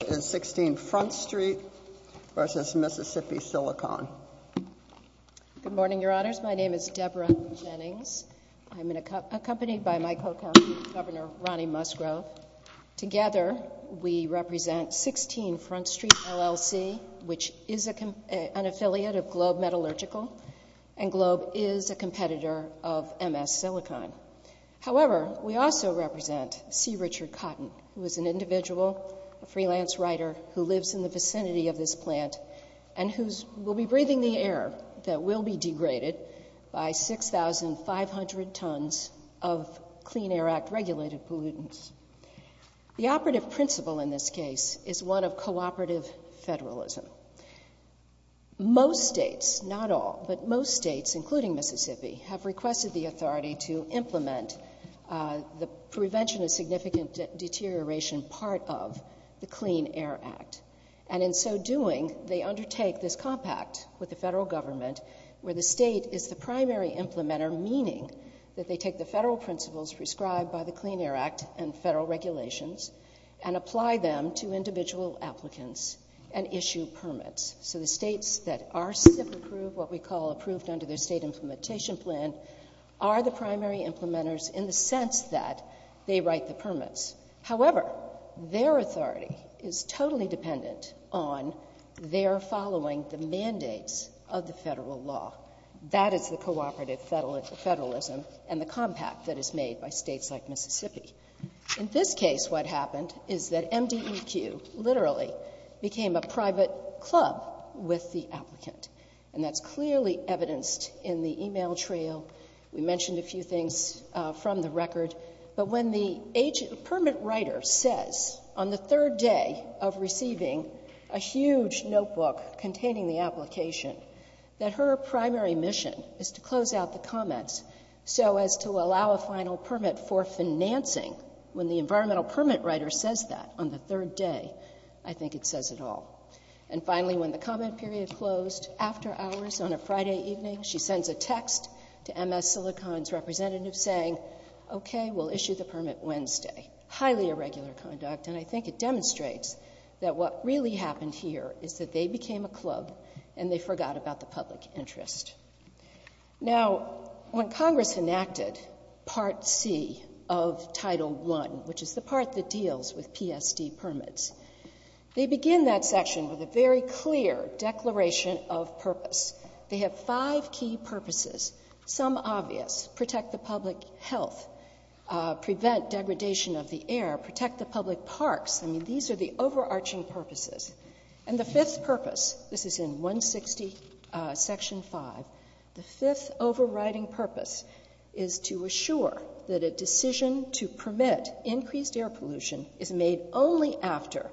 Good morning, Your Honors. My name is Deborah Jennings. I'm accompanied by my co-co-co-governor Ronnie Musgrove. Together, we represent 16 Front Street, L.L.C., which is an affiliate of Globe Metallurgical, and Globe is a competitor of MS Silicon. However, we also represent C. Richard Cotton, who is an individual, a freelance writer, who lives in the vicinity of this plant, and who will be breathing the air that will be degraded by 6,500 tons of Clean Air Act-regulated pollutants. The operative principle in this case is one of cooperative federalism. Most states, not all, but most states, including Mississippi, have requested the authority to implement the prevention of significant deterioration part of the Clean Air Act. And in so doing, they undertake this compact with the federal government, where the state is the primary implementer, meaning that they take the federal principles prescribed by the Clean Air Act and federal regulations, and apply them to individual applicants and issue permits. So the states that are approved, what we call approved under the state implementation plan, are the primary implementers in the sense that they write the permits. However, their authority is totally dependent on their following the mandates of the federal law. That is the cooperative federalism and the compact that is made by states like Mississippi. In this case, what happened is that MDEQ literally became a private club with the applicant, and that's clearly evidenced in the email trail. We mentioned a few things from the record. But when the permit writer says on the third day of receiving a huge notebook containing the application that her primary mission is to close out the comments so as to allow a final permit for financing, when the environmental permit writer says that on the third day, I think it says it all. And finally, when the comment period closed after hours on a Friday evening, she sends a text to MS Silicon's representative saying, okay, we'll issue the permit Wednesday. Highly irregular conduct, and I think it demonstrates that what really happened here is that they became a club and they forgot about the public interest. Now, when Congress enacted Part C of Title I, which is the part that deals with PSD permits, they begin that section with a very clear declaration of purpose. They have five key purposes, some obvious, protect the public health, prevent degradation of the air, protect the public parks. I mean, these are the overarching purposes. And the fifth purpose, this is in 160 section 5, the fifth overriding purpose is to assure that a decision to permit increased air pollution is made only after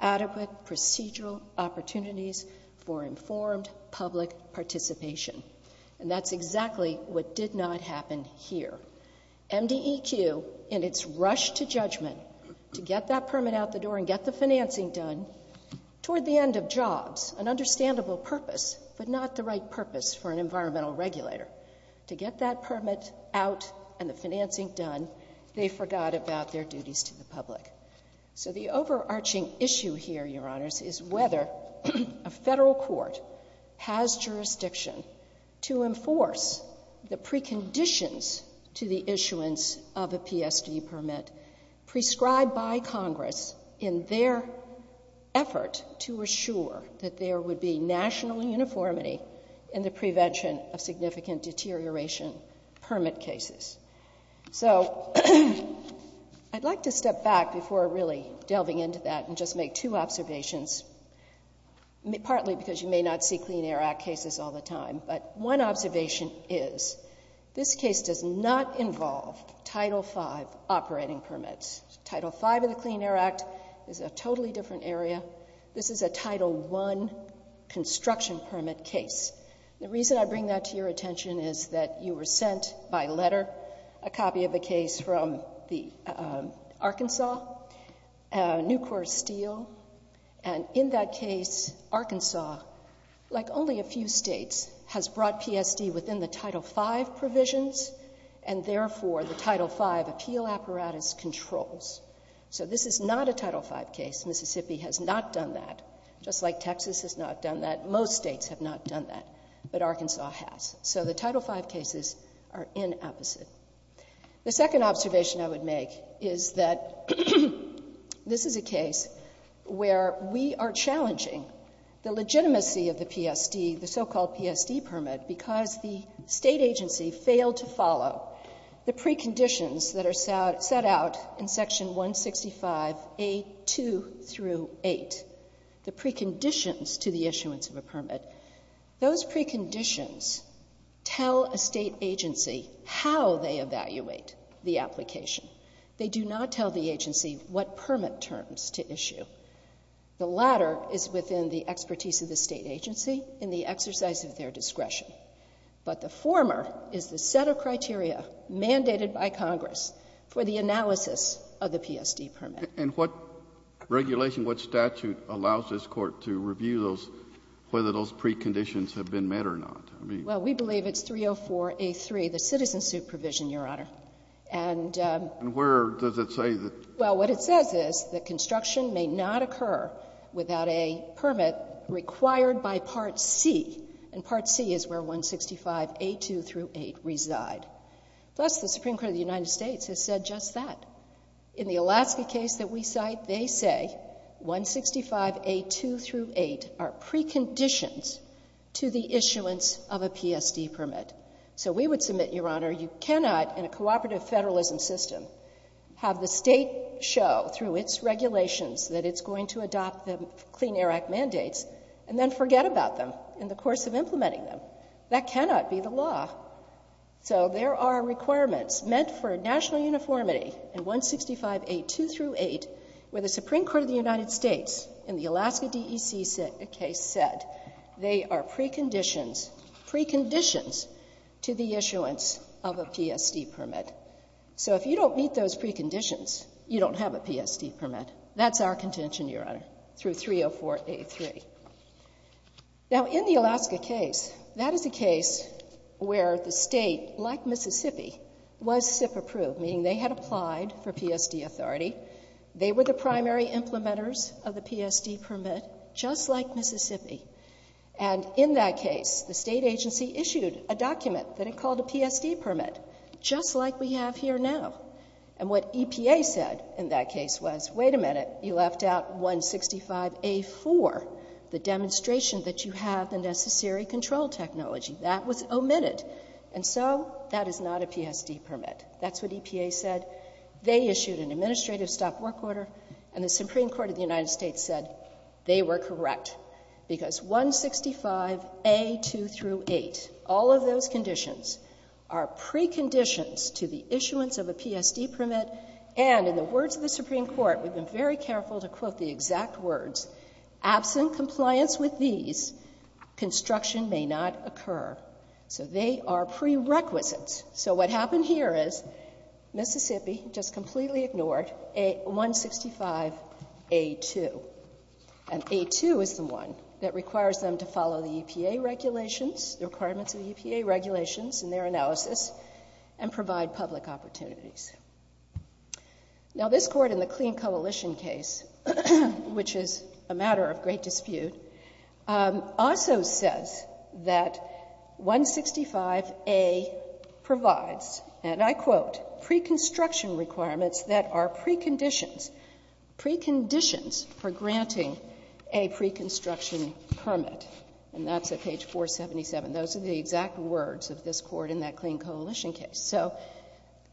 adequate procedural opportunities for informed public participation. And that's exactly what did not happen here. MDEQ, in its rush to judgment to get that permit out the door and get the financing done, toward the end of jobs, an understandable purpose, but not the right purpose for an environmental regulator. To get that permit out and the financing done, they forgot about their duties to the public. So the overarching issue here, Your Honors, is whether a Federal Court has jurisdiction to enforce the preconditions to the issuance of a PSD permit prescribed by Congress in their effort to assure that there would be national uniformity in the prevention of significant deterioration permit cases. So I'd like to step back before really delving into that and just make two observations, partly because you may not see Clean Air Act cases all the time, but one observation is this case does not involve Title V operating permits. Title V of the Clean Air Act is a totally different area. This is a Title I construction permit case. The reason I bring that to your attention is that you were sent by letter a copy of the case from Arkansas, Nucor Steel, and in that case, Arkansas, like only a few states, has brought PSD within the Title V provisions and therefore the Title V appeal apparatus controls. So this is not a Title V case. Mississippi has not done that, just like Texas has not done that. Most states have not done that, but Arkansas has. So the Title V cases are inapposite. The second observation I would make is that this is a case where we are challenging the legitimacy of the PSD, the so-called PSD permit, because the state agency failed to follow the preconditions that are set out in Section 165A2-8, the preconditions to the issuance of a permit. Those preconditions tell a state agency how they evaluate the application. They do not tell the agency what permit terms to issue. The latter is within the expertise of the state agency in the exercise of their discretion, but the former is the set of criteria mandated by Congress for the analysis of the PSD permit. And what regulation, what statute allows this Court to review those, whether those preconditions have been met or not? Well, we believe it's 304A3, the citizen suit provision, Your Honor. And where does it say that? Well, what it says is that construction may not occur without a permit required by Part C, and Part C is where 165A2-8 reside. Plus, the Supreme Court of the United States has said just that. In the Alaska case that we cite, they say 165A2-8 are preconditions to the issuance of a PSD permit. So we would submit, Your Honor, you cannot, in a cooperative federalism system, have the state show through its regulations that it's going to adopt the Clean Air Act mandates and then forget about them in the course of implementing them. That cannot be the law. So there are requirements meant for national uniformity in 165A2-8 where the Supreme Court of the United States in the Alaska DEC case said they are preconditions to the issuance of a PSD permit. So if you don't meet those preconditions, you don't have a PSD permit. That's our contention, Your Honor, through 304A3. Now, in the Alaska case, that is a case where the state, like Mississippi, was SIP-approved, meaning they had applied for PSD authority. They were the primary implementers of the PSD permit, just like Mississippi. And in that case, the state agency issued a document that it called a PSD permit, just like we have here now. And what EPA said in that case was, wait a minute, you left out 165A4, the demonstration that you have the necessary control technology. That was omitted. And so that is not a PSD permit. That's what EPA said. They issued an administrative stop work order, and the Supreme Court of the United States said they were correct, because 165A2-8, all of those conditions are preconditions to the issuance of a PSD permit. And in the words of the Supreme Court, we've been very careful to quote the exact words, absent compliance with these, construction may not occur. So they are prerequisites. So what happened here is Mississippi just completely ignored 165A2. And A2 is the one that requires them to follow the EPA regulations, the requirements of the EPA regulations and their analysis, and provide public opportunities. Now this Court in the Clean Coalition case, which is a matter of great dispute, also says that 165A provides, and I quote, pre-construction requirements that are preconditions, preconditions for granting a pre-construction permit. And that's at page 477. Those are the exact words of this Court in that Clean Coalition case. So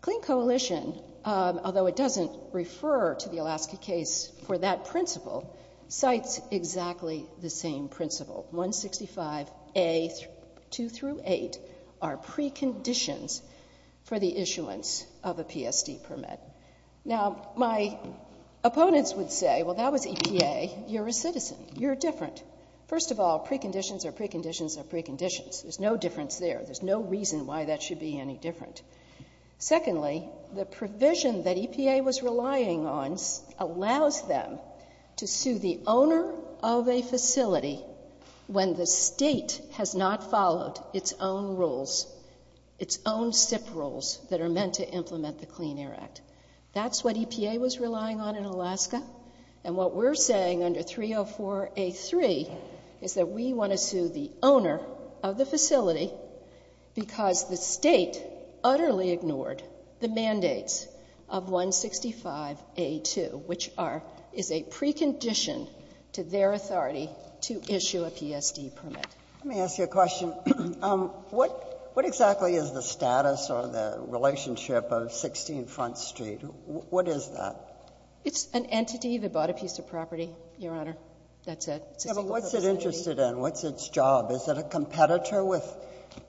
Clean Coalition, although it doesn't refer to the Alaska case for that principle, cites exactly the same principle. 165A2-8 are preconditions for the issuance of a PSD permit. Now my opponents would say, well, that was EPA. You're a citizen. You're different. First of all, preconditions are preconditions are preconditions. There's no difference there. There's no reason why that should be any different. Secondly, the provision that EPA was relying on allows them to sue the owner of a facility when the state has not followed its own rules, its own SIP rules that are meant to implement the Clean Air Act. That's what EPA was relying on in Alaska. And what we're saying under 304A3 is that we want to sue the owner of the facility because the state utterly ignored the mandates of 165A2, which are, is a precondition to their authority to issue a PSD permit. Let me ask you a question. What exactly is the status or the relationship of 16 Front Street? What is that? It's an entity that bought a piece of property, Your Honor. That's it. Yeah, but what's it interested in? What's its job? Is it a competitor with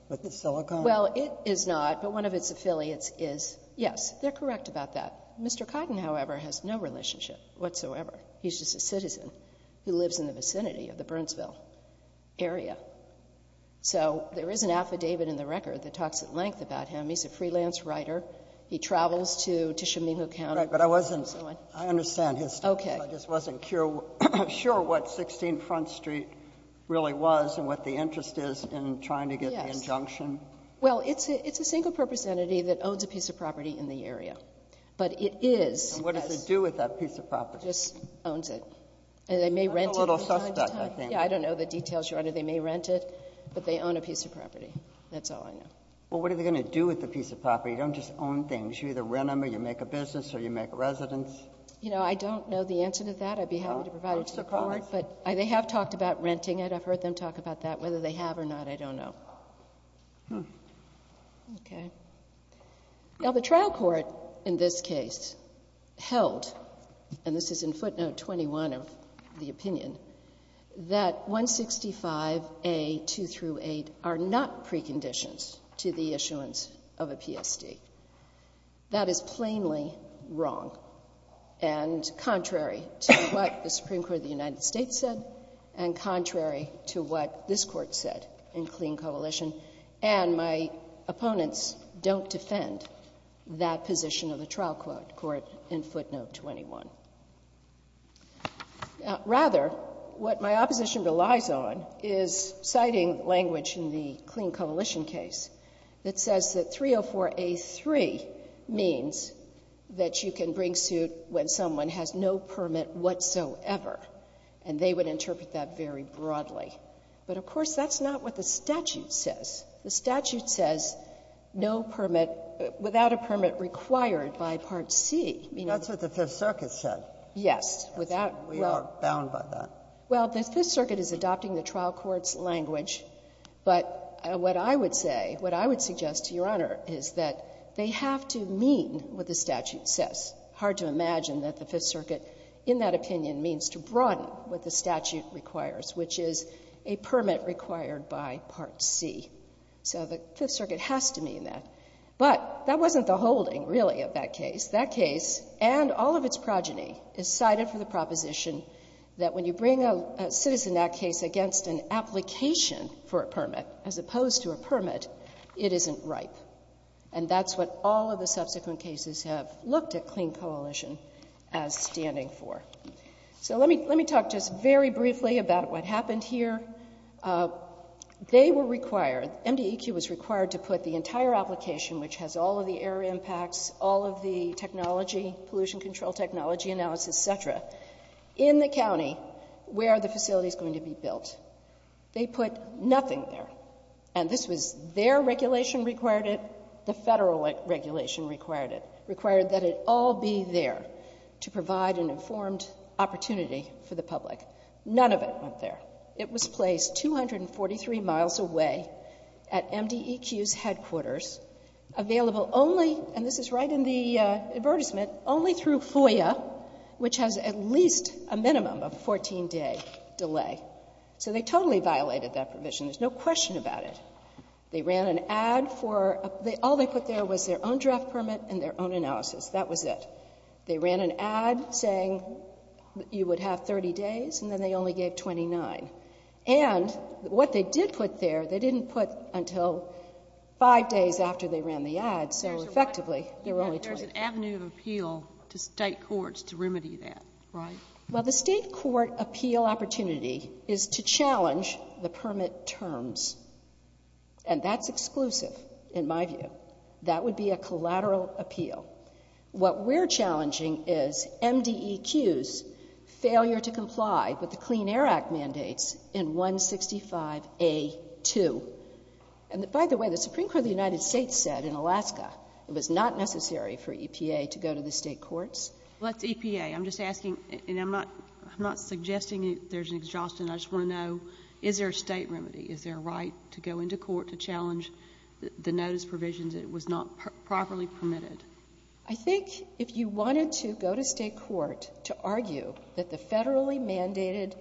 the silicone? Well, it is not, but one of its affiliates is. Yes, they're correct about that. Mr. Cotton, however, has no relationship whatsoever. He's just a citizen who lives in the vicinity of the Burnsville area. So there is an affidavit in the record that talks at length about him. He's a freelance writer. He travels to Chemehue County. Right, but I wasn't, I understand his status. I just wasn't sure what 16 Front Street really was and what the interest is in trying to get the injunction. Well, it's a single-purpose entity that owns a piece of property in the area, but it is And what does it do with that piece of property? It just owns it, and they may rent it from time to time. That's a little suspect, I think. Yeah, I don't know the details, Your Honor. They may rent it, but they own a piece of property. That's all I know. Well, what are they going to do with the piece of property? You don't just own things. You either rent them, or you make a business, or you make a residence. You know, I don't know the answer to that. I'd be happy to provide it to the court, but they have talked about renting it. I've heard them talk about that. Whether they have or not, I don't know. Okay. Now, the trial court in this case held, and this is in footnote 21 of the opinion, that 165A.2 through 8 are not preconditions to the issuance of a PSD. That is plainly wrong and contrary to what the Supreme Court of the United States said and contrary to what this Court said in Clean Coalition, and my opponents don't defend that position of the trial court in footnote 21. Rather, what my opposition relies on is citing language in the Clean Coalition case that says that 304A.3 means that you can bring suit when someone has no permit whatsoever, and they would interpret that very broadly. But, of course, that's not what the statute says. The statute says no permit, without a permit required by Part C. That's what the Fifth Circuit said. Yes. Without — We are bound by that. Well, the Fifth Circuit is adopting the trial court's language, but what I would say, what I would suggest to Your Honor, is that they have to mean what the statute says. It's hard to imagine that the Fifth Circuit, in that opinion, means to broaden what the statute requires, which is a permit required by Part C. So the Fifth Circuit has to mean that. But that wasn't the holding, really, of that case. That case and all of its progeny is cited for the proposition that when you bring a citizen in that case against an application for a permit, as opposed to a permit, it isn't ripe. And that's what all of the subsequent cases have looked at Clean Coalition as standing for. So let me talk just very briefly about what happened here. They were required, MDEQ was required to put the entire application, which has all of the air impacts, all of the technology, pollution control technology analysis, et cetera, in the county where the facility is going to be built. They put nothing there. And this was their regulation required it, the Federal regulation required it, required that it all be there to provide an informed opportunity for the public. None of it went there. It was placed 243 miles away at MDEQ's headquarters, available only, and this is right in the advertisement, only through FOIA, which has at least a minimum of a 14-day delay. So they totally violated that provision. There's no question about it. They ran an ad for, all they put there was their own draft permit and their own analysis. That was it. They ran an ad saying you would have 30 days and then they only gave 29. And what they did put there, they didn't put until five days after they ran the ad, so effectively there were only 29. There's an avenue of appeal to state courts to remedy that, right? Well, the state court appeal opportunity is to challenge the permit terms, and that's exclusive in my view. That would be a collateral appeal. What we're challenging is MDEQ's failure to comply with the Clean Air Act mandates in 165A2. And by the way, the Supreme Court of the United States said in Alaska it was not necessary for EPA to go to the state courts. Well, that's EPA. I'm just asking, and I'm not suggesting there's an exhaustion. I just want to know, is there a state remedy? Is there a right to go into court to challenge the notice provisions that it was not properly permitted? I think if you wanted to go to state court to argue that the federally mandated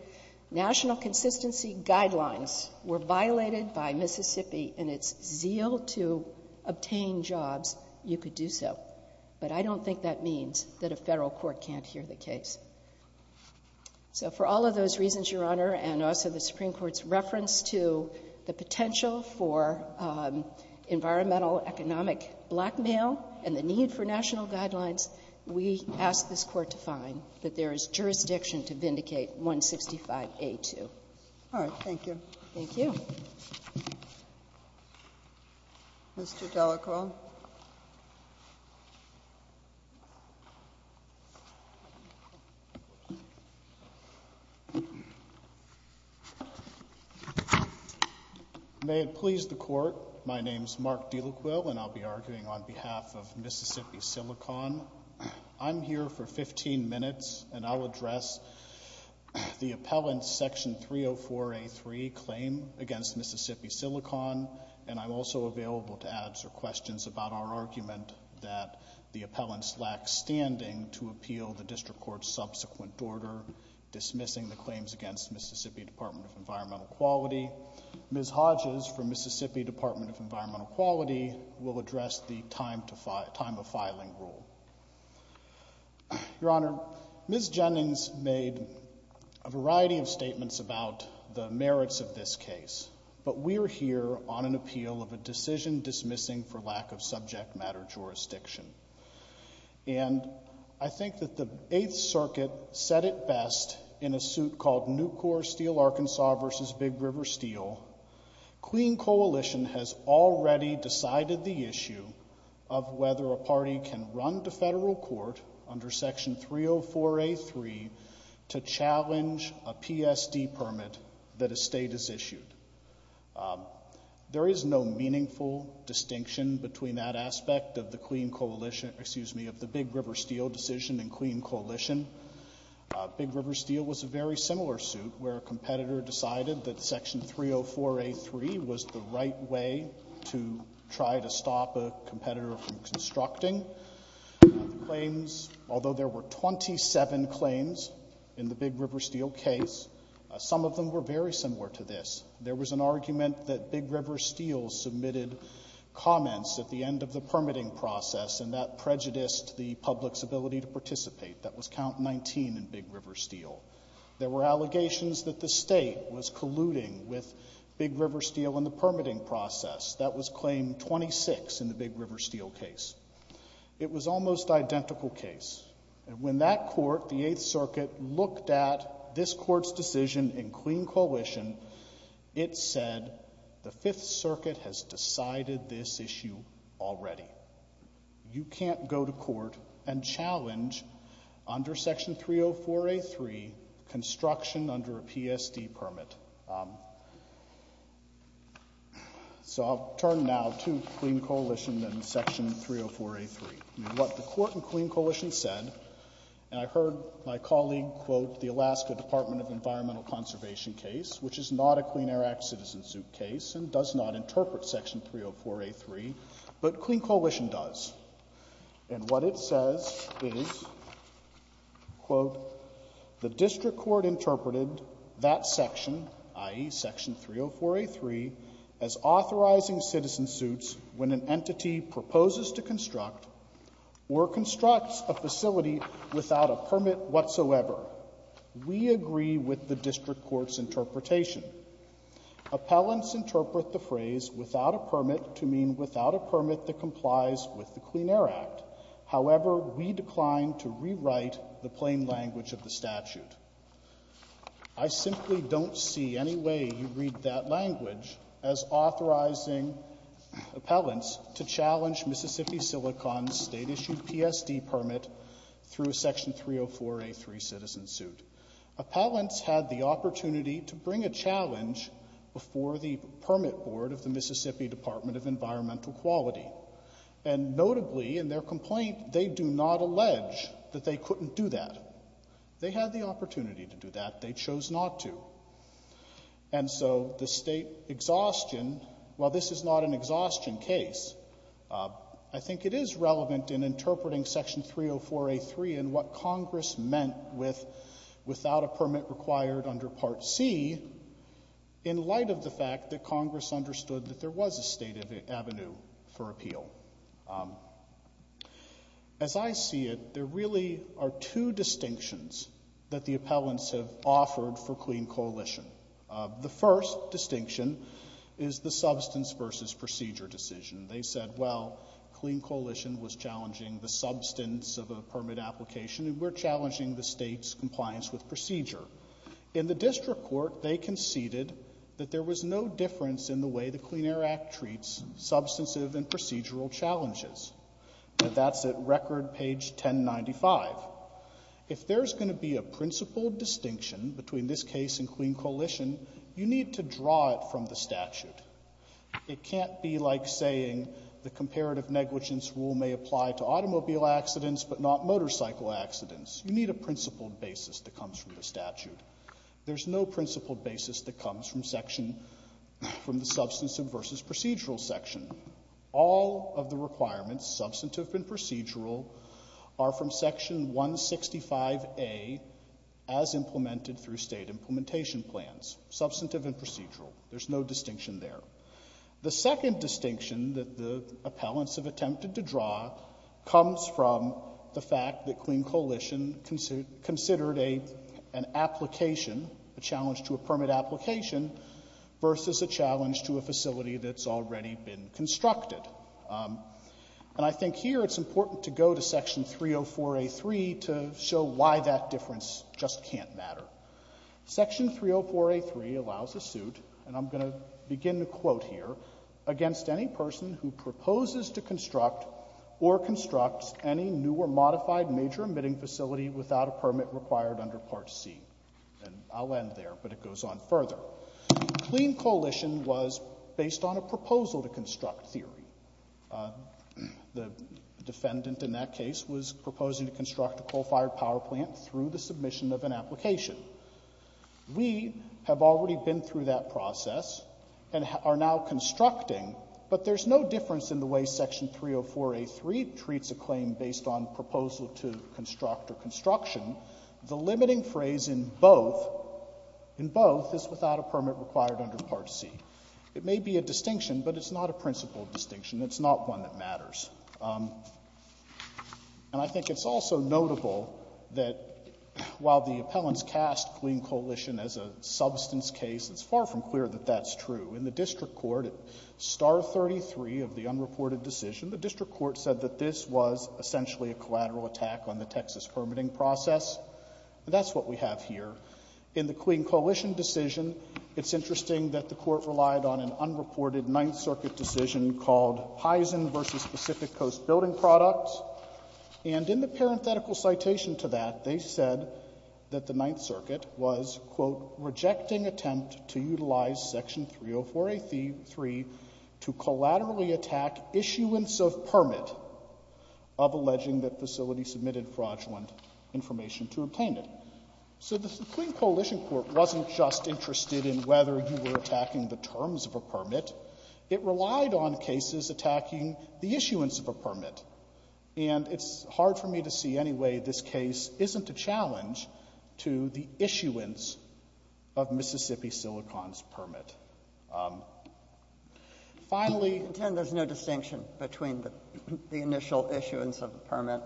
national consistency guidelines were violated by Mississippi in its zeal to obtain jobs, you could do so. But I don't think that means that a Federal court can't hear the case. So for all of those reasons, Your Honor, and also the Supreme Court's reference to the potential for environmental economic blackmail and the need for national guidelines, we ask this Court to find that there is jurisdiction to vindicate 165A2. All right. Thank you. Thank you. Mr. Delacroix. May it please the Court, my name is Mark Delacroix, and I'll be arguing on behalf of Mississippi Silicon. I'm here for 15 minutes, and I'll address the appellant's Section 304A3 claim against Mississippi Silicon, and I'm also available to answer questions about our argument that the appellants lack standing to appeal the District Court's subsequent order dismissing the claims against Mississippi Department of Environmental Quality. Ms. Hodges from Mississippi Department of Environmental Quality will address the time of filing rule. Your Honor, Ms. Jennings made a variety of statements about the merits of this case, but we're here on an appeal of a decision dismissing for lack of subject matter jurisdiction. And I think that the Eighth Circuit said it best in a suit called Nucor Steel Arkansas v. Big River Steel, Queen Coalition has already decided the issue of whether a party can run into federal court under Section 304A3 to challenge a PSD permit that a state has issued. There is no meaningful distinction between that aspect of the Queen Coalition, excuse me, of the Big River Steel decision and Queen Coalition. Big River Steel was a very similar suit where a competitor decided that Section 304A3 was the right way to try to stop a competitor from constructing. Although there were 27 claims in the Big River Steel case, some of them were very similar to this. There was an argument that Big River Steel submitted comments at the end of the permitting process and that prejudiced the public's ability to participate. That was count 19 in Big River Steel. There were allegations that the state was colluding with Big River Steel in the permitting process. That was claim 26 in the Big River Steel case. It was almost identical case. When that court, the Eighth Circuit, looked at this court's decision in Queen Coalition, it said the Fifth Circuit has decided this issue already. You can't go to court and challenge under Section 304A3 construction under a PSD permit. So I'll turn now to Queen Coalition and Section 304A3. What the court in Queen Coalition said, and I heard my colleague quote the Alaska Department of Environmental Conservation case, which is not a Clean Air Act citizen suit case and does not interpret Section 304A3, but Queen Coalition does. And what it says is, quote, the district court interpreted that section, i.e. Section 304A3, as authorizing citizen suits when an entity proposes to construct or constructs a facility without a permit whatsoever. We agree with the district court's with the Clean Air Act. However, we declined to rewrite the plain language of the statute. I simply don't see any way you read that language as authorizing appellants to challenge Mississippi Silicon's state-issued PSD permit through a Section 304A3 citizen suit. Appellants had the opportunity to bring a challenge before the permit board of the And notably in their complaint, they do not allege that they couldn't do that. They had the opportunity to do that. They chose not to. And so the state exhaustion, while this is not an exhaustion case, I think it is relevant in interpreting Section 304A3 and what Congress meant with without a permit required under Part C in light of the fact that Congress understood that there was a state avenue for appeal. As I see it, there really are two distinctions that the appellants have offered for Clean Coalition. The first distinction is the substance versus procedure decision. They said, well, Clean Coalition was challenging the substance of a permit application and we're challenging the state's compliance with procedure. In the district court, they conceded that there was no difference in the way the Clean Air Act treats substantive and procedural challenges. And that's at record page 1095. If there's going to be a principled distinction between this case and Clean Coalition, you need to draw it from the statute. It can't be like saying the comparative negligence rule may apply to automobile accidents but not motorcycle accidents. You need a principled basis that comes from the statute. There's no principled basis that comes from the substance versus procedural section. All of the requirements, substantive and procedural, are from Section 165A as implemented through state implementation plans, substantive and procedural. There's no distinction there. The second distinction that the appellants have attempted to draw comes from the fact that Clean Coalition considered an application, a challenge to a permit application, versus a challenge to a facility that's already been constructed. And I think here it's important to go to Section 304A.3 to show why that difference just can't matter. Section 304A.3 allows a suit, and I'm going to begin the quote here, against any person who proposes to construct or constructs any new or modified major emitting facility without a permit required under Part C. And I'll end there, but it goes on further. Clean Coalition was based on a proposal to construct theory. The defendant in that case was proposing to construct a coal-fired power plant through the submission of an application. We have already been through that process and are now constructing, but there's no difference in the way Section 304A.3 treats a claim based on proposal to construct or construction. The limiting phrase in both is without a permit required under Part C. It may be a distinction, but it's not a principle distinction. It's not one that matters. And I think it's also notable that while the appellants cast Clean Coalition as a substance case, it's far from clear that that's true. In the district court, at Star 33 of the unreported decision, the district court said that this was essentially a collateral attack on the Texas permitting process. That's what we have here. In the Clean Coalition decision, it's interesting that the court relied on an unreported Ninth Circuit decision called Heisen v. Pacific Coast Building Products. And in the parenthetical citation to that, they said that the Ninth Circuit was, quote, rejecting attempt to utilize Section 304A.3 to collaterally attack issuance of permit of alleging that facility submitted fraudulent information to obtain it. So the Clean Coalition court wasn't just interested in whether you were attacking the terms of a permit. It relied on cases attacking the issuance of a permit. And it's hard for me to see any way this case isn't a challenge to the issuance of Mississippi Silicon's permit. Finally — I contend there's no distinction between the initial issuance of the permit,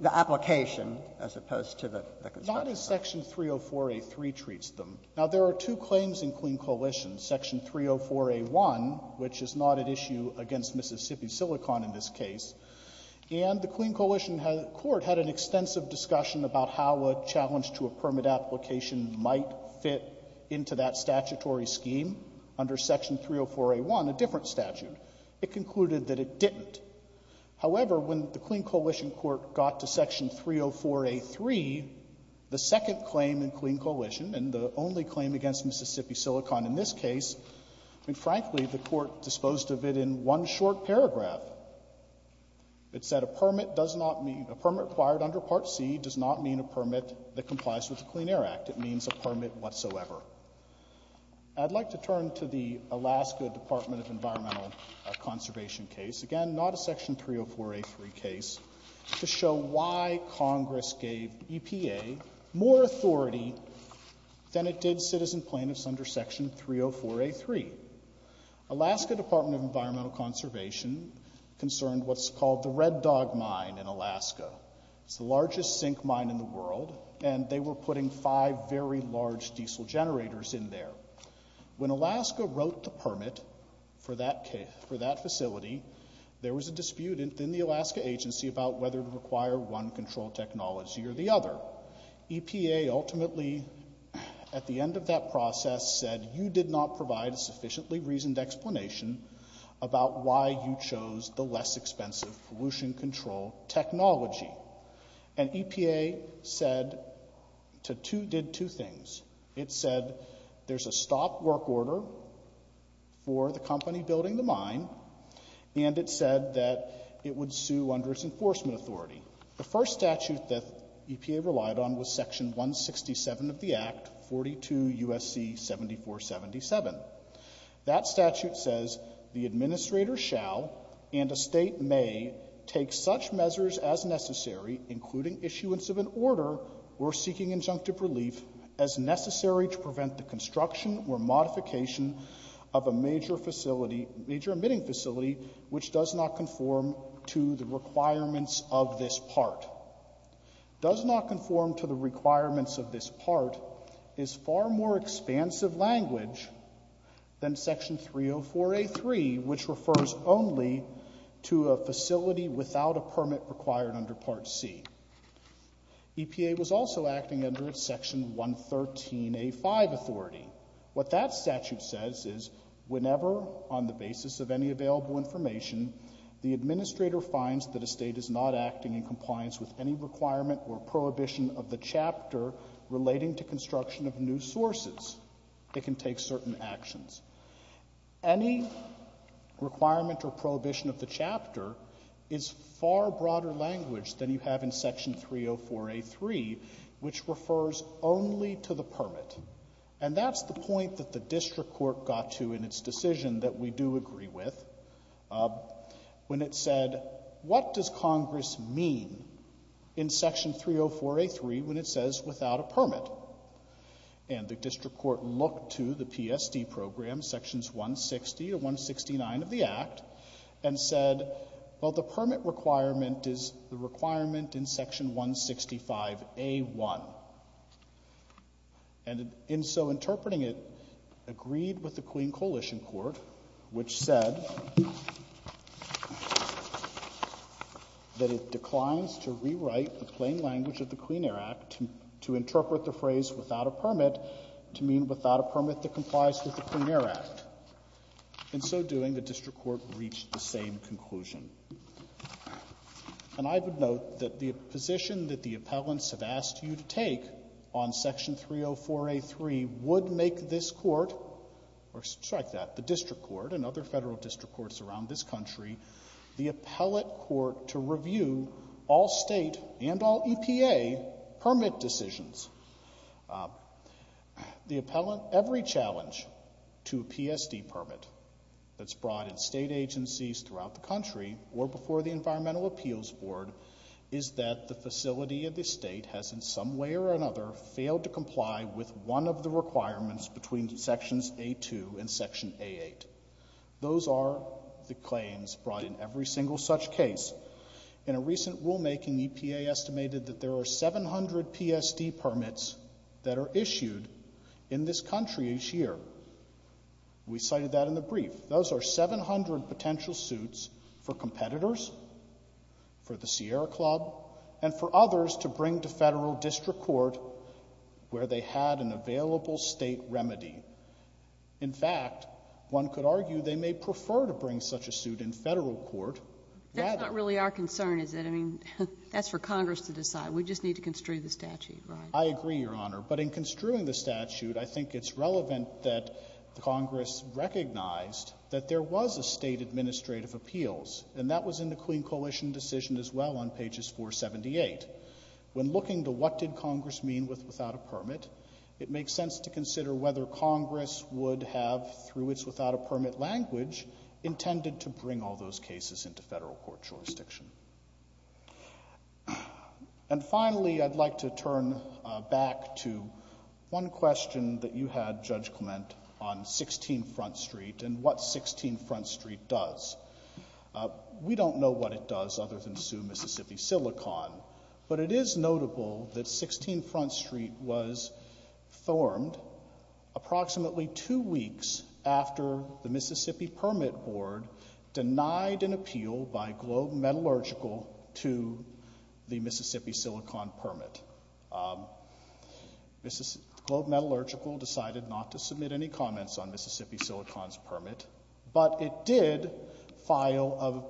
the application as opposed to the construction. Not as Section 304A.3 treats them. Now, there are two claims in Clean Coalition, Section 304A.1, which is not at issue against Mississippi Silicon in this case. And the Clean Coalition court had an extensive discussion about how a challenge to a permit application might fit into that statutory scheme under Section 304A.1, a different statute. It concluded that it didn't. However, when the Clean Coalition court got to Section 304A.3, the second claim in Clean Coalition and the only claim against Mississippi Silicon in this case, I mean, frankly, the court disposed of it in one short paragraph. It said a permit does not mean — a permit acquired under Part C does not mean a permit that complies with the Clean Air Act. It means a permit whatsoever. I'd like to turn to the Alaska Department of Environmental Conservation case. Again, not a Section 304A.3 case, to show why Congress gave EPA more authority than it did citizen plaintiffs under Section 304A.3. Alaska Department of Environmental Conservation concerned what's called the Red Dog Mine in Alaska. It's the largest zinc mine in the world, and they were putting five very large diesel generators in there. When Alaska wrote the permit for that facility, there was a dispute within the Alaska agency about whether to require one control technology or the other. EPA ultimately, at the end of that process, said you did not provide a sufficiently reasoned explanation about why you chose the less expensive pollution control technology. And EPA said — did two things. It said there's a stop work order for the company building the mine, and it said that it would sue under its enforcement authority. The first statute that EPA relied on was Section 167 of the Act, 42 U.S.C. 7477. That statute says the administrator shall and a state may take such measures as necessary, including issuance of an order or seeking injunctive relief, as necessary to prevent the construction or modification of a major facility — major emitting facility which does not conform to the requirements of this part. Does not conform to the requirements of this part is far more expansive language than Section 304A.3, which refers only to a facility without a permit required under Part C. EPA was also acting under its Section 113A.5 authority. What that statute says is whenever, on the basis of any available information, the administrator finds that a state is not acting in compliance with any requirement or prohibition of the chapter is far broader language than you have in Section 304A.3, which refers only to the permit. And that's the point that the district court got to in its decision that we do agree with, when it said, what does Congress mean in Section 304A.3 when it says without a permit? And the district court looked to the PSD program, Sections 160 to 169 of the Act, and said, well, the permit requirement is the requirement in Section 165A.1. And in so interpreting it, agreed with the Queen Coalition Court, which said that it meant without a permit that complies with the Clean Air Act. In so doing, the district court reached the same conclusion. And I would note that the position that the appellants have asked you to take on Section 304A.3 would make this court, or strike that, the district court and other federal district courts around this country, the appellate court to review all state and all EPA permit decisions. The appellant, every challenge to a PSD permit that's brought in state agencies throughout the country, or before the Environmental Appeals Board, is that the facility of the state has in some way or another failed to comply with one of the requirements between Sections A.2 and Section A.8. Those are the claims brought in every single such case. In a recent rulemaking, EPA estimated that there are 700 PSD permits that are issued in this country each year. We cited that in the brief. Those are 700 potential suits for competitors, for the Sierra Club, and for others to bring to federal district court where they had an available state remedy. In fact, one could argue they may prefer to bring such a suit in federal court rather But that's really our concern, is that, I mean, that's for Congress to decide. We just need to construe the statute, right? I agree, Your Honor. But in construing the statute, I think it's relevant that Congress recognized that there was a state administrative appeals, and that was in the Queen Coalition decision as well on pages 478. When looking to what did Congress mean with without a permit, it makes sense to consider whether Congress would have, through its without a permit language, intended to bring all those cases into federal court jurisdiction. And finally, I'd like to turn back to one question that you had, Judge Clement, on 16 Front Street and what 16 Front Street does. We don't know what it does other than sue Mississippi Silicon, but it is notable that 16 Front Street was formed approximately two weeks after the Mississippi Permit Board denied an appeal by Globe Metallurgical to the Mississippi Silicon permit. Globe Metallurgical decided not to submit any comments on Mississippi Silicon's permit, but it did file an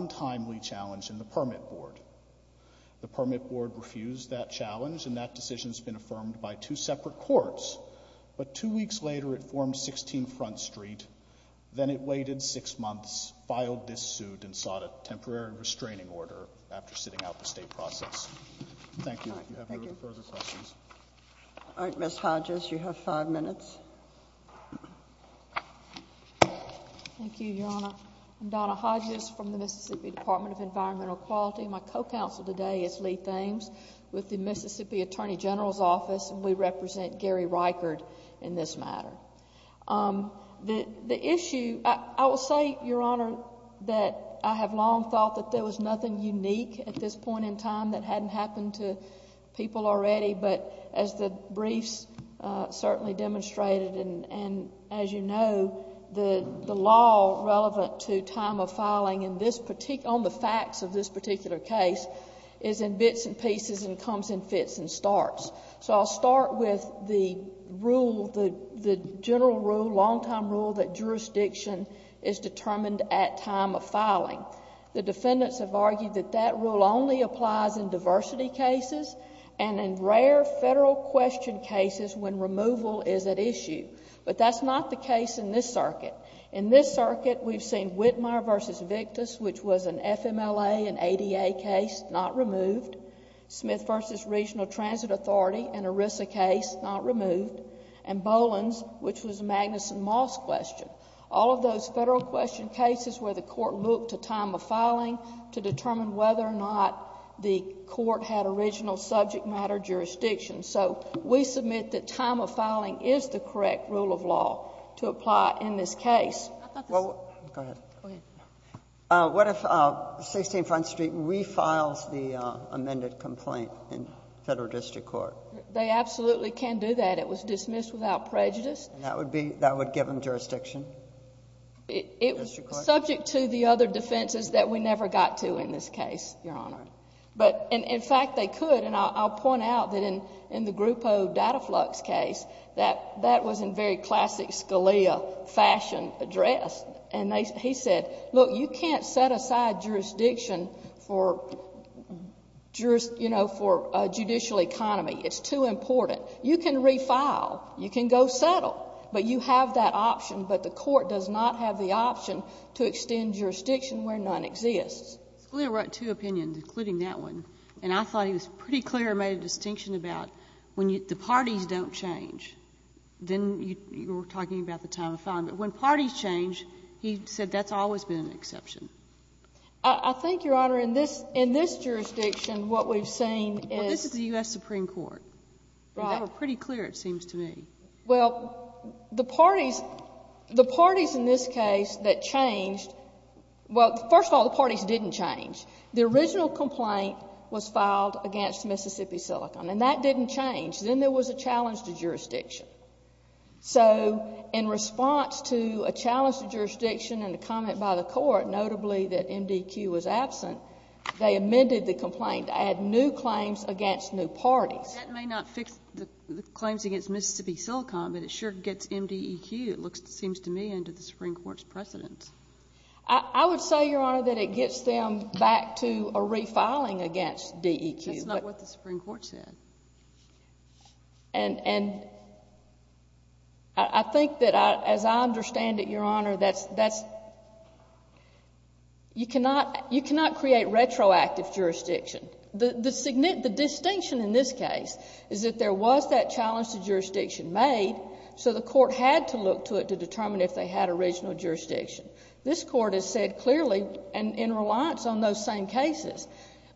untimely challenge in the Permit Board. The Permit Board refused that challenge, and that decision's been affirmed by two separate courts. But two weeks later, it formed 16 Front Street. Then it waited six months, filed this suit, and sought a temporary restraining order after sitting out the state process. Thank you. If you have any further questions. All right, Ms. Hodges, you have five minutes. Thank you, Your Honor. I'm Donna Hodges from the Mississippi Department of Environmental Quality. My co-counsel today is Lee Thames with the Mississippi Attorney General's Office, and we represent Gary Reichard in this matter. The issue, I will say, Your Honor, that I have long thought that there was nothing unique at this point in time that hadn't happened to people already. But as the briefs certainly demonstrated, and as you know, the law relevant to time of filing on the facts of this particular case is in bits and pieces and comes in fits and starts. So I'll start with the rule, the general rule, long-time rule that jurisdiction is determined at time of filing. The defendants have argued that that rule only applies in diversity cases and in rare federal question cases when removal is at issue. But that's not the case in this circuit. In this circuit, we've seen Whitmer v. Victus, which was an FMLA and ADA case, not removed. Smith v. Regional Transit Authority, an ERISA case, not removed. And Boland's, which was a Magnuson Moss question. All of those federal question cases where the court looked to time of filing to determine whether or not the court had original subject matter jurisdiction. So we submit that time of filing is the correct rule of law to apply in this case. Go ahead. Go ahead. What if 16 Front Street refiles the amended complaint in federal district court? They absolutely can do that. It was dismissed without prejudice. And that would be, that would give them jurisdiction? It was subject to the other defenses that we never got to in this case, Your Honor. But in fact, they could. And I'll point out that in the Grupo Dataflux case, that that was in very classic Scalia fashion address. And he said, look, you can't set aside jurisdiction for, you know, for a judicial economy. It's too important. You can refile. You can go settle. But you have that option. But the court does not have the option to extend jurisdiction where none exists. Scalia wrote two opinions, including that one. And I thought he was pretty clear and made a distinction about when the parties don't change. Then you were talking about the time of filing. But when parties change, he said that's always been an exception. I think, Your Honor, in this, in this jurisdiction, what we've seen is. Well, this is the U.S. Supreme Court. Right. And they were pretty clear, it seems to me. Well, the parties, the parties in this case that changed, well, first of all, the parties didn't change. The original complaint was filed against Mississippi Silicon. And that didn't change. Then there was a challenge to jurisdiction. So in response to a challenge to jurisdiction and a comment by the court, notably that MDEQ was absent, they amended the complaint to add new claims against new parties. That may not fix the claims against Mississippi Silicon, but it sure gets MDEQ, it seems to me, into the Supreme Court's precedence. I would say, Your Honor, that it gets them back to refiling against DEQ. That's not what the Supreme Court said. And I think that, as I understand it, Your Honor, that's, that's, you cannot, you cannot create retroactive jurisdiction. The distinction in this case is that there was that challenge to jurisdiction made, so the court had to look to it to determine if they had original jurisdiction. This court has said clearly, and in reliance on those same cases,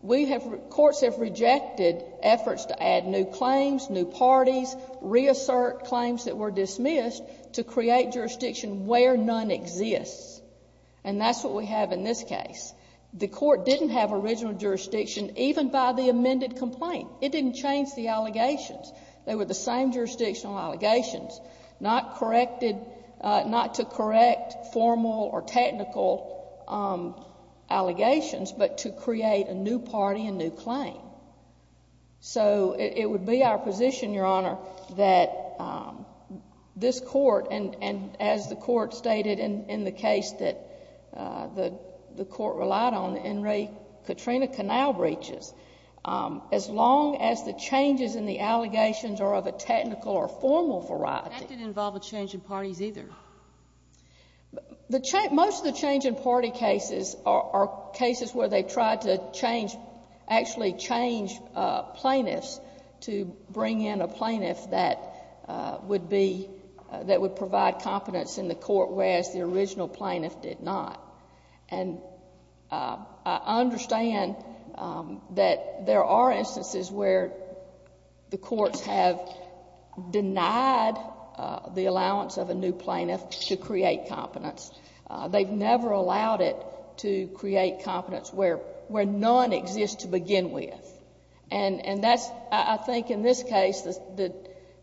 we have, courts have rejected efforts to add new claims, new parties, reassert claims that were dismissed to create jurisdiction where none exists. And that's what we have in this case. The court didn't have original jurisdiction even by the amended complaint. It didn't change the allegations. They were the same jurisdictional allegations, not corrected, not to correct formal or technical allegations, but to create a new party and new claim. So, it would be our position, Your Honor, that this court, and as the court stated in the case that the court relied on, the N. Ray Katrina Canal breaches, as long as the changes in the allegations are of a technical or formal variety. That didn't involve a change in parties either. Most of the change in party cases are cases where they tried to change, actually change plaintiffs to bring in a plaintiff that would be, that would provide competence in the court, whereas the original plaintiff did not. And I understand that there are instances where the courts have denied the allowance of a new plaintiff to create competence. They've never allowed it to create competence where none exists to begin with. And that's, I think, in this case, the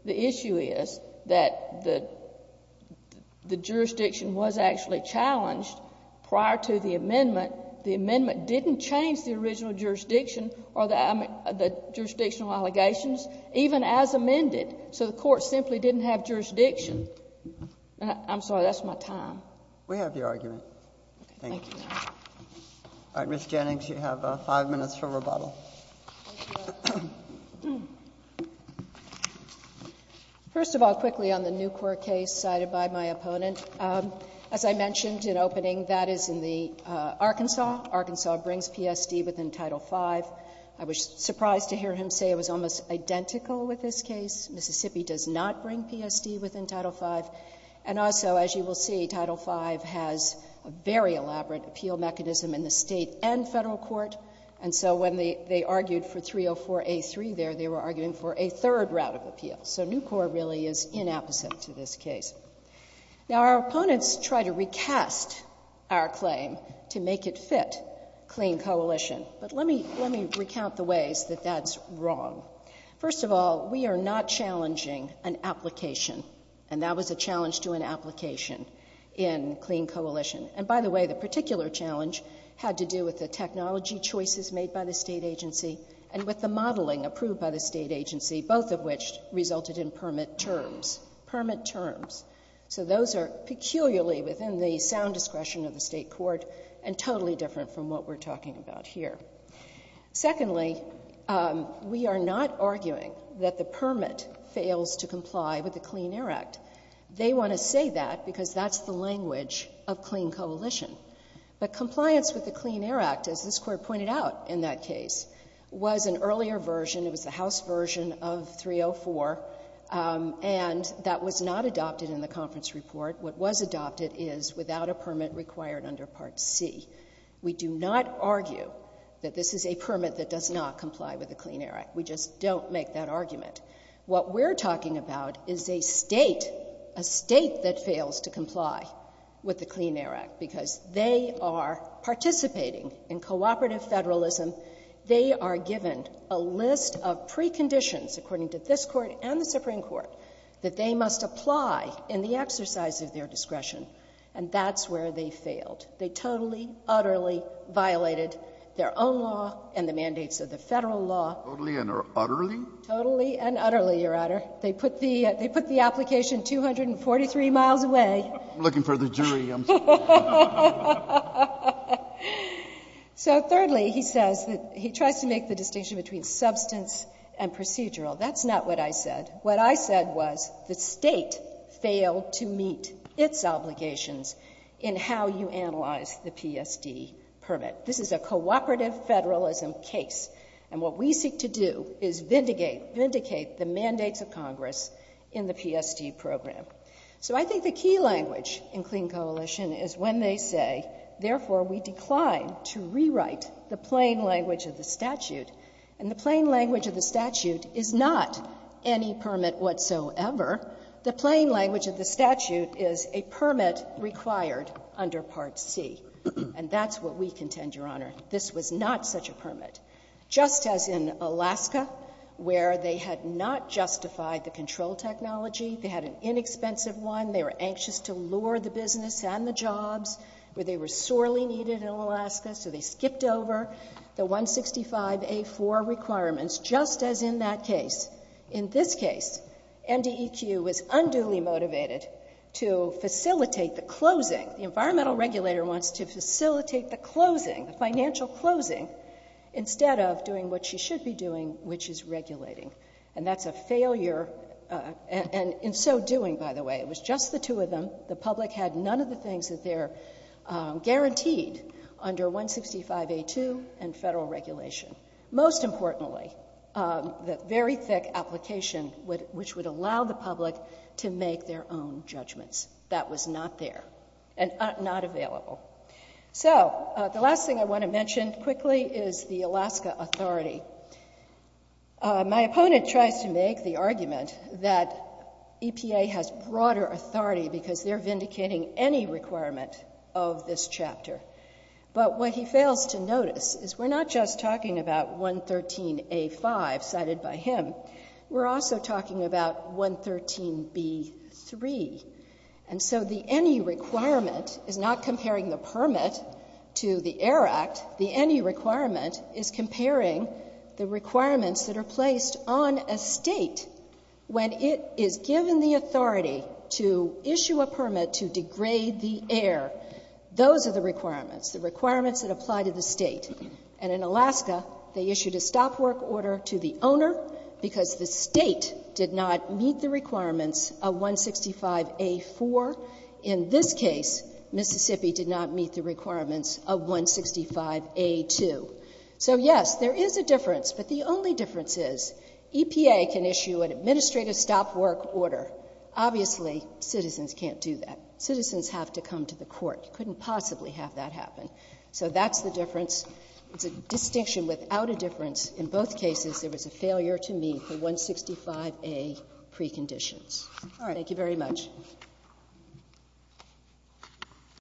issue is that the jurisdiction was actually challenged prior to the amendment. The amendment didn't change the original jurisdiction or the jurisdictional allegations, even as amended. So the court simply didn't have jurisdiction. I'm sorry. That's my time. We have your argument. Thank you. All right, Ms. Jennings, you have 5 minutes for rebuttal. First of all, quickly on the New Court case cited by my opponent. As I mentioned in opening, that is in the Arkansas. Arkansas brings PSD within Title V. I was surprised to hear him say it was almost identical with this case. Mississippi does not bring PSD within Title V. And also, as you will see, Title V has a very elaborate appeal mechanism in the state and federal court. And so when they argued for 304A3 there, they were arguing for a third route of appeal. So New Court really is inapposite to this case. Now, our opponents try to recast our claim to make it fit Clean Coalition. But let me recount the ways that that's wrong. First of all, we are not challenging an application. And that was a challenge to an application in Clean Coalition. And by the way, the particular challenge had to do with the technology choices made by the state agency and with the modeling approved by the state agency, both of which resulted in permit terms. Permit terms. So those are peculiarly within the sound discretion of the state court and totally different from what we're talking about here. Secondly, we are not arguing that the permit fails to comply with the Clean Air Act. They want to say that because that's the language of Clean Coalition. But compliance with the Clean Air Act, as this Court pointed out in that case, was an earlier version. It was the House version of 304. And that was not adopted in the conference report. What was adopted is without a permit required under Part C. We do not argue that this is a permit that does not comply with the Clean Air Act. We just don't make that argument. What we're talking about is a state, a state that fails to comply with the Clean Air Act because they are participating in cooperative federalism. They are given a list of preconditions, according to this Court and the Supreme Court, that they must apply in the exercise of their discretion. And that's where they failed. They totally, utterly violated their own law and the mandates of the federal law. Totally and utterly? Totally and utterly, Your Honor. They put the application 243 miles away. I'm looking for the jury. I'm sorry. So thirdly, he says that he tries to make the distinction between substance and procedural. That's not what I said. What I said was the state failed to meet its obligations in how you analyze the PSD permit. This is a cooperative federalism case. And what we seek to do is vindicate, vindicate the mandates of Congress in the PSD program. So I think the key language in Clean Coalition is when they say, therefore, we decline to rewrite the plain language of the statute. And the plain language of the statute is not any permit whatsoever. The plain language of the statute is a permit required under Part C. And that's what we contend, Your Honor. This was not such a permit. Just as in Alaska, where they had not justified the control technology, they had an inexpensive one. They were anxious to lure the business and the jobs, where they were sorely needed in Alaska, so they skipped over the 165A4 requirements, just as in that case. In this case, MDEQ was unduly motivated to facilitate the closing. The environmental regulator wants to facilitate the closing, the financial closing, instead of doing what she should be doing, which is regulating. And that's a failure. And in so doing, by the way, it was just the two of them. The public had none of the things that they're guaranteed under 165A2 and federal regulation. Most importantly, the very thick application, which would allow the public to make their own judgments. That was not there and not available. So the last thing I want to mention quickly is the Alaska Authority. My opponent tries to make the argument that EPA has broader authority because they're vindicating any requirement of this chapter. But what he fails to notice is we're not just talking about 113A5 cited by him. We're also talking about 113B3. And so the any requirement is not comparing the permit to the Air Act. The any requirement is comparing the requirements that are placed on a state when it is given the authority to issue a permit to degrade the air. Those are the requirements, the requirements that apply to the state. And in Alaska, they issued a stop work order to the owner because the state did not meet the requirements of 165A4. In this case, Mississippi did not meet the requirements of 165A2. So, yes, there is a difference. But the only difference is EPA can issue an administrative stop work order. Obviously, citizens can't do that. Citizens have to come to the court. You couldn't possibly have that happen. So that's the difference. It's a distinction without a difference. In both cases, there was a failure to meet the 165A preconditions. All right. Thank you very much.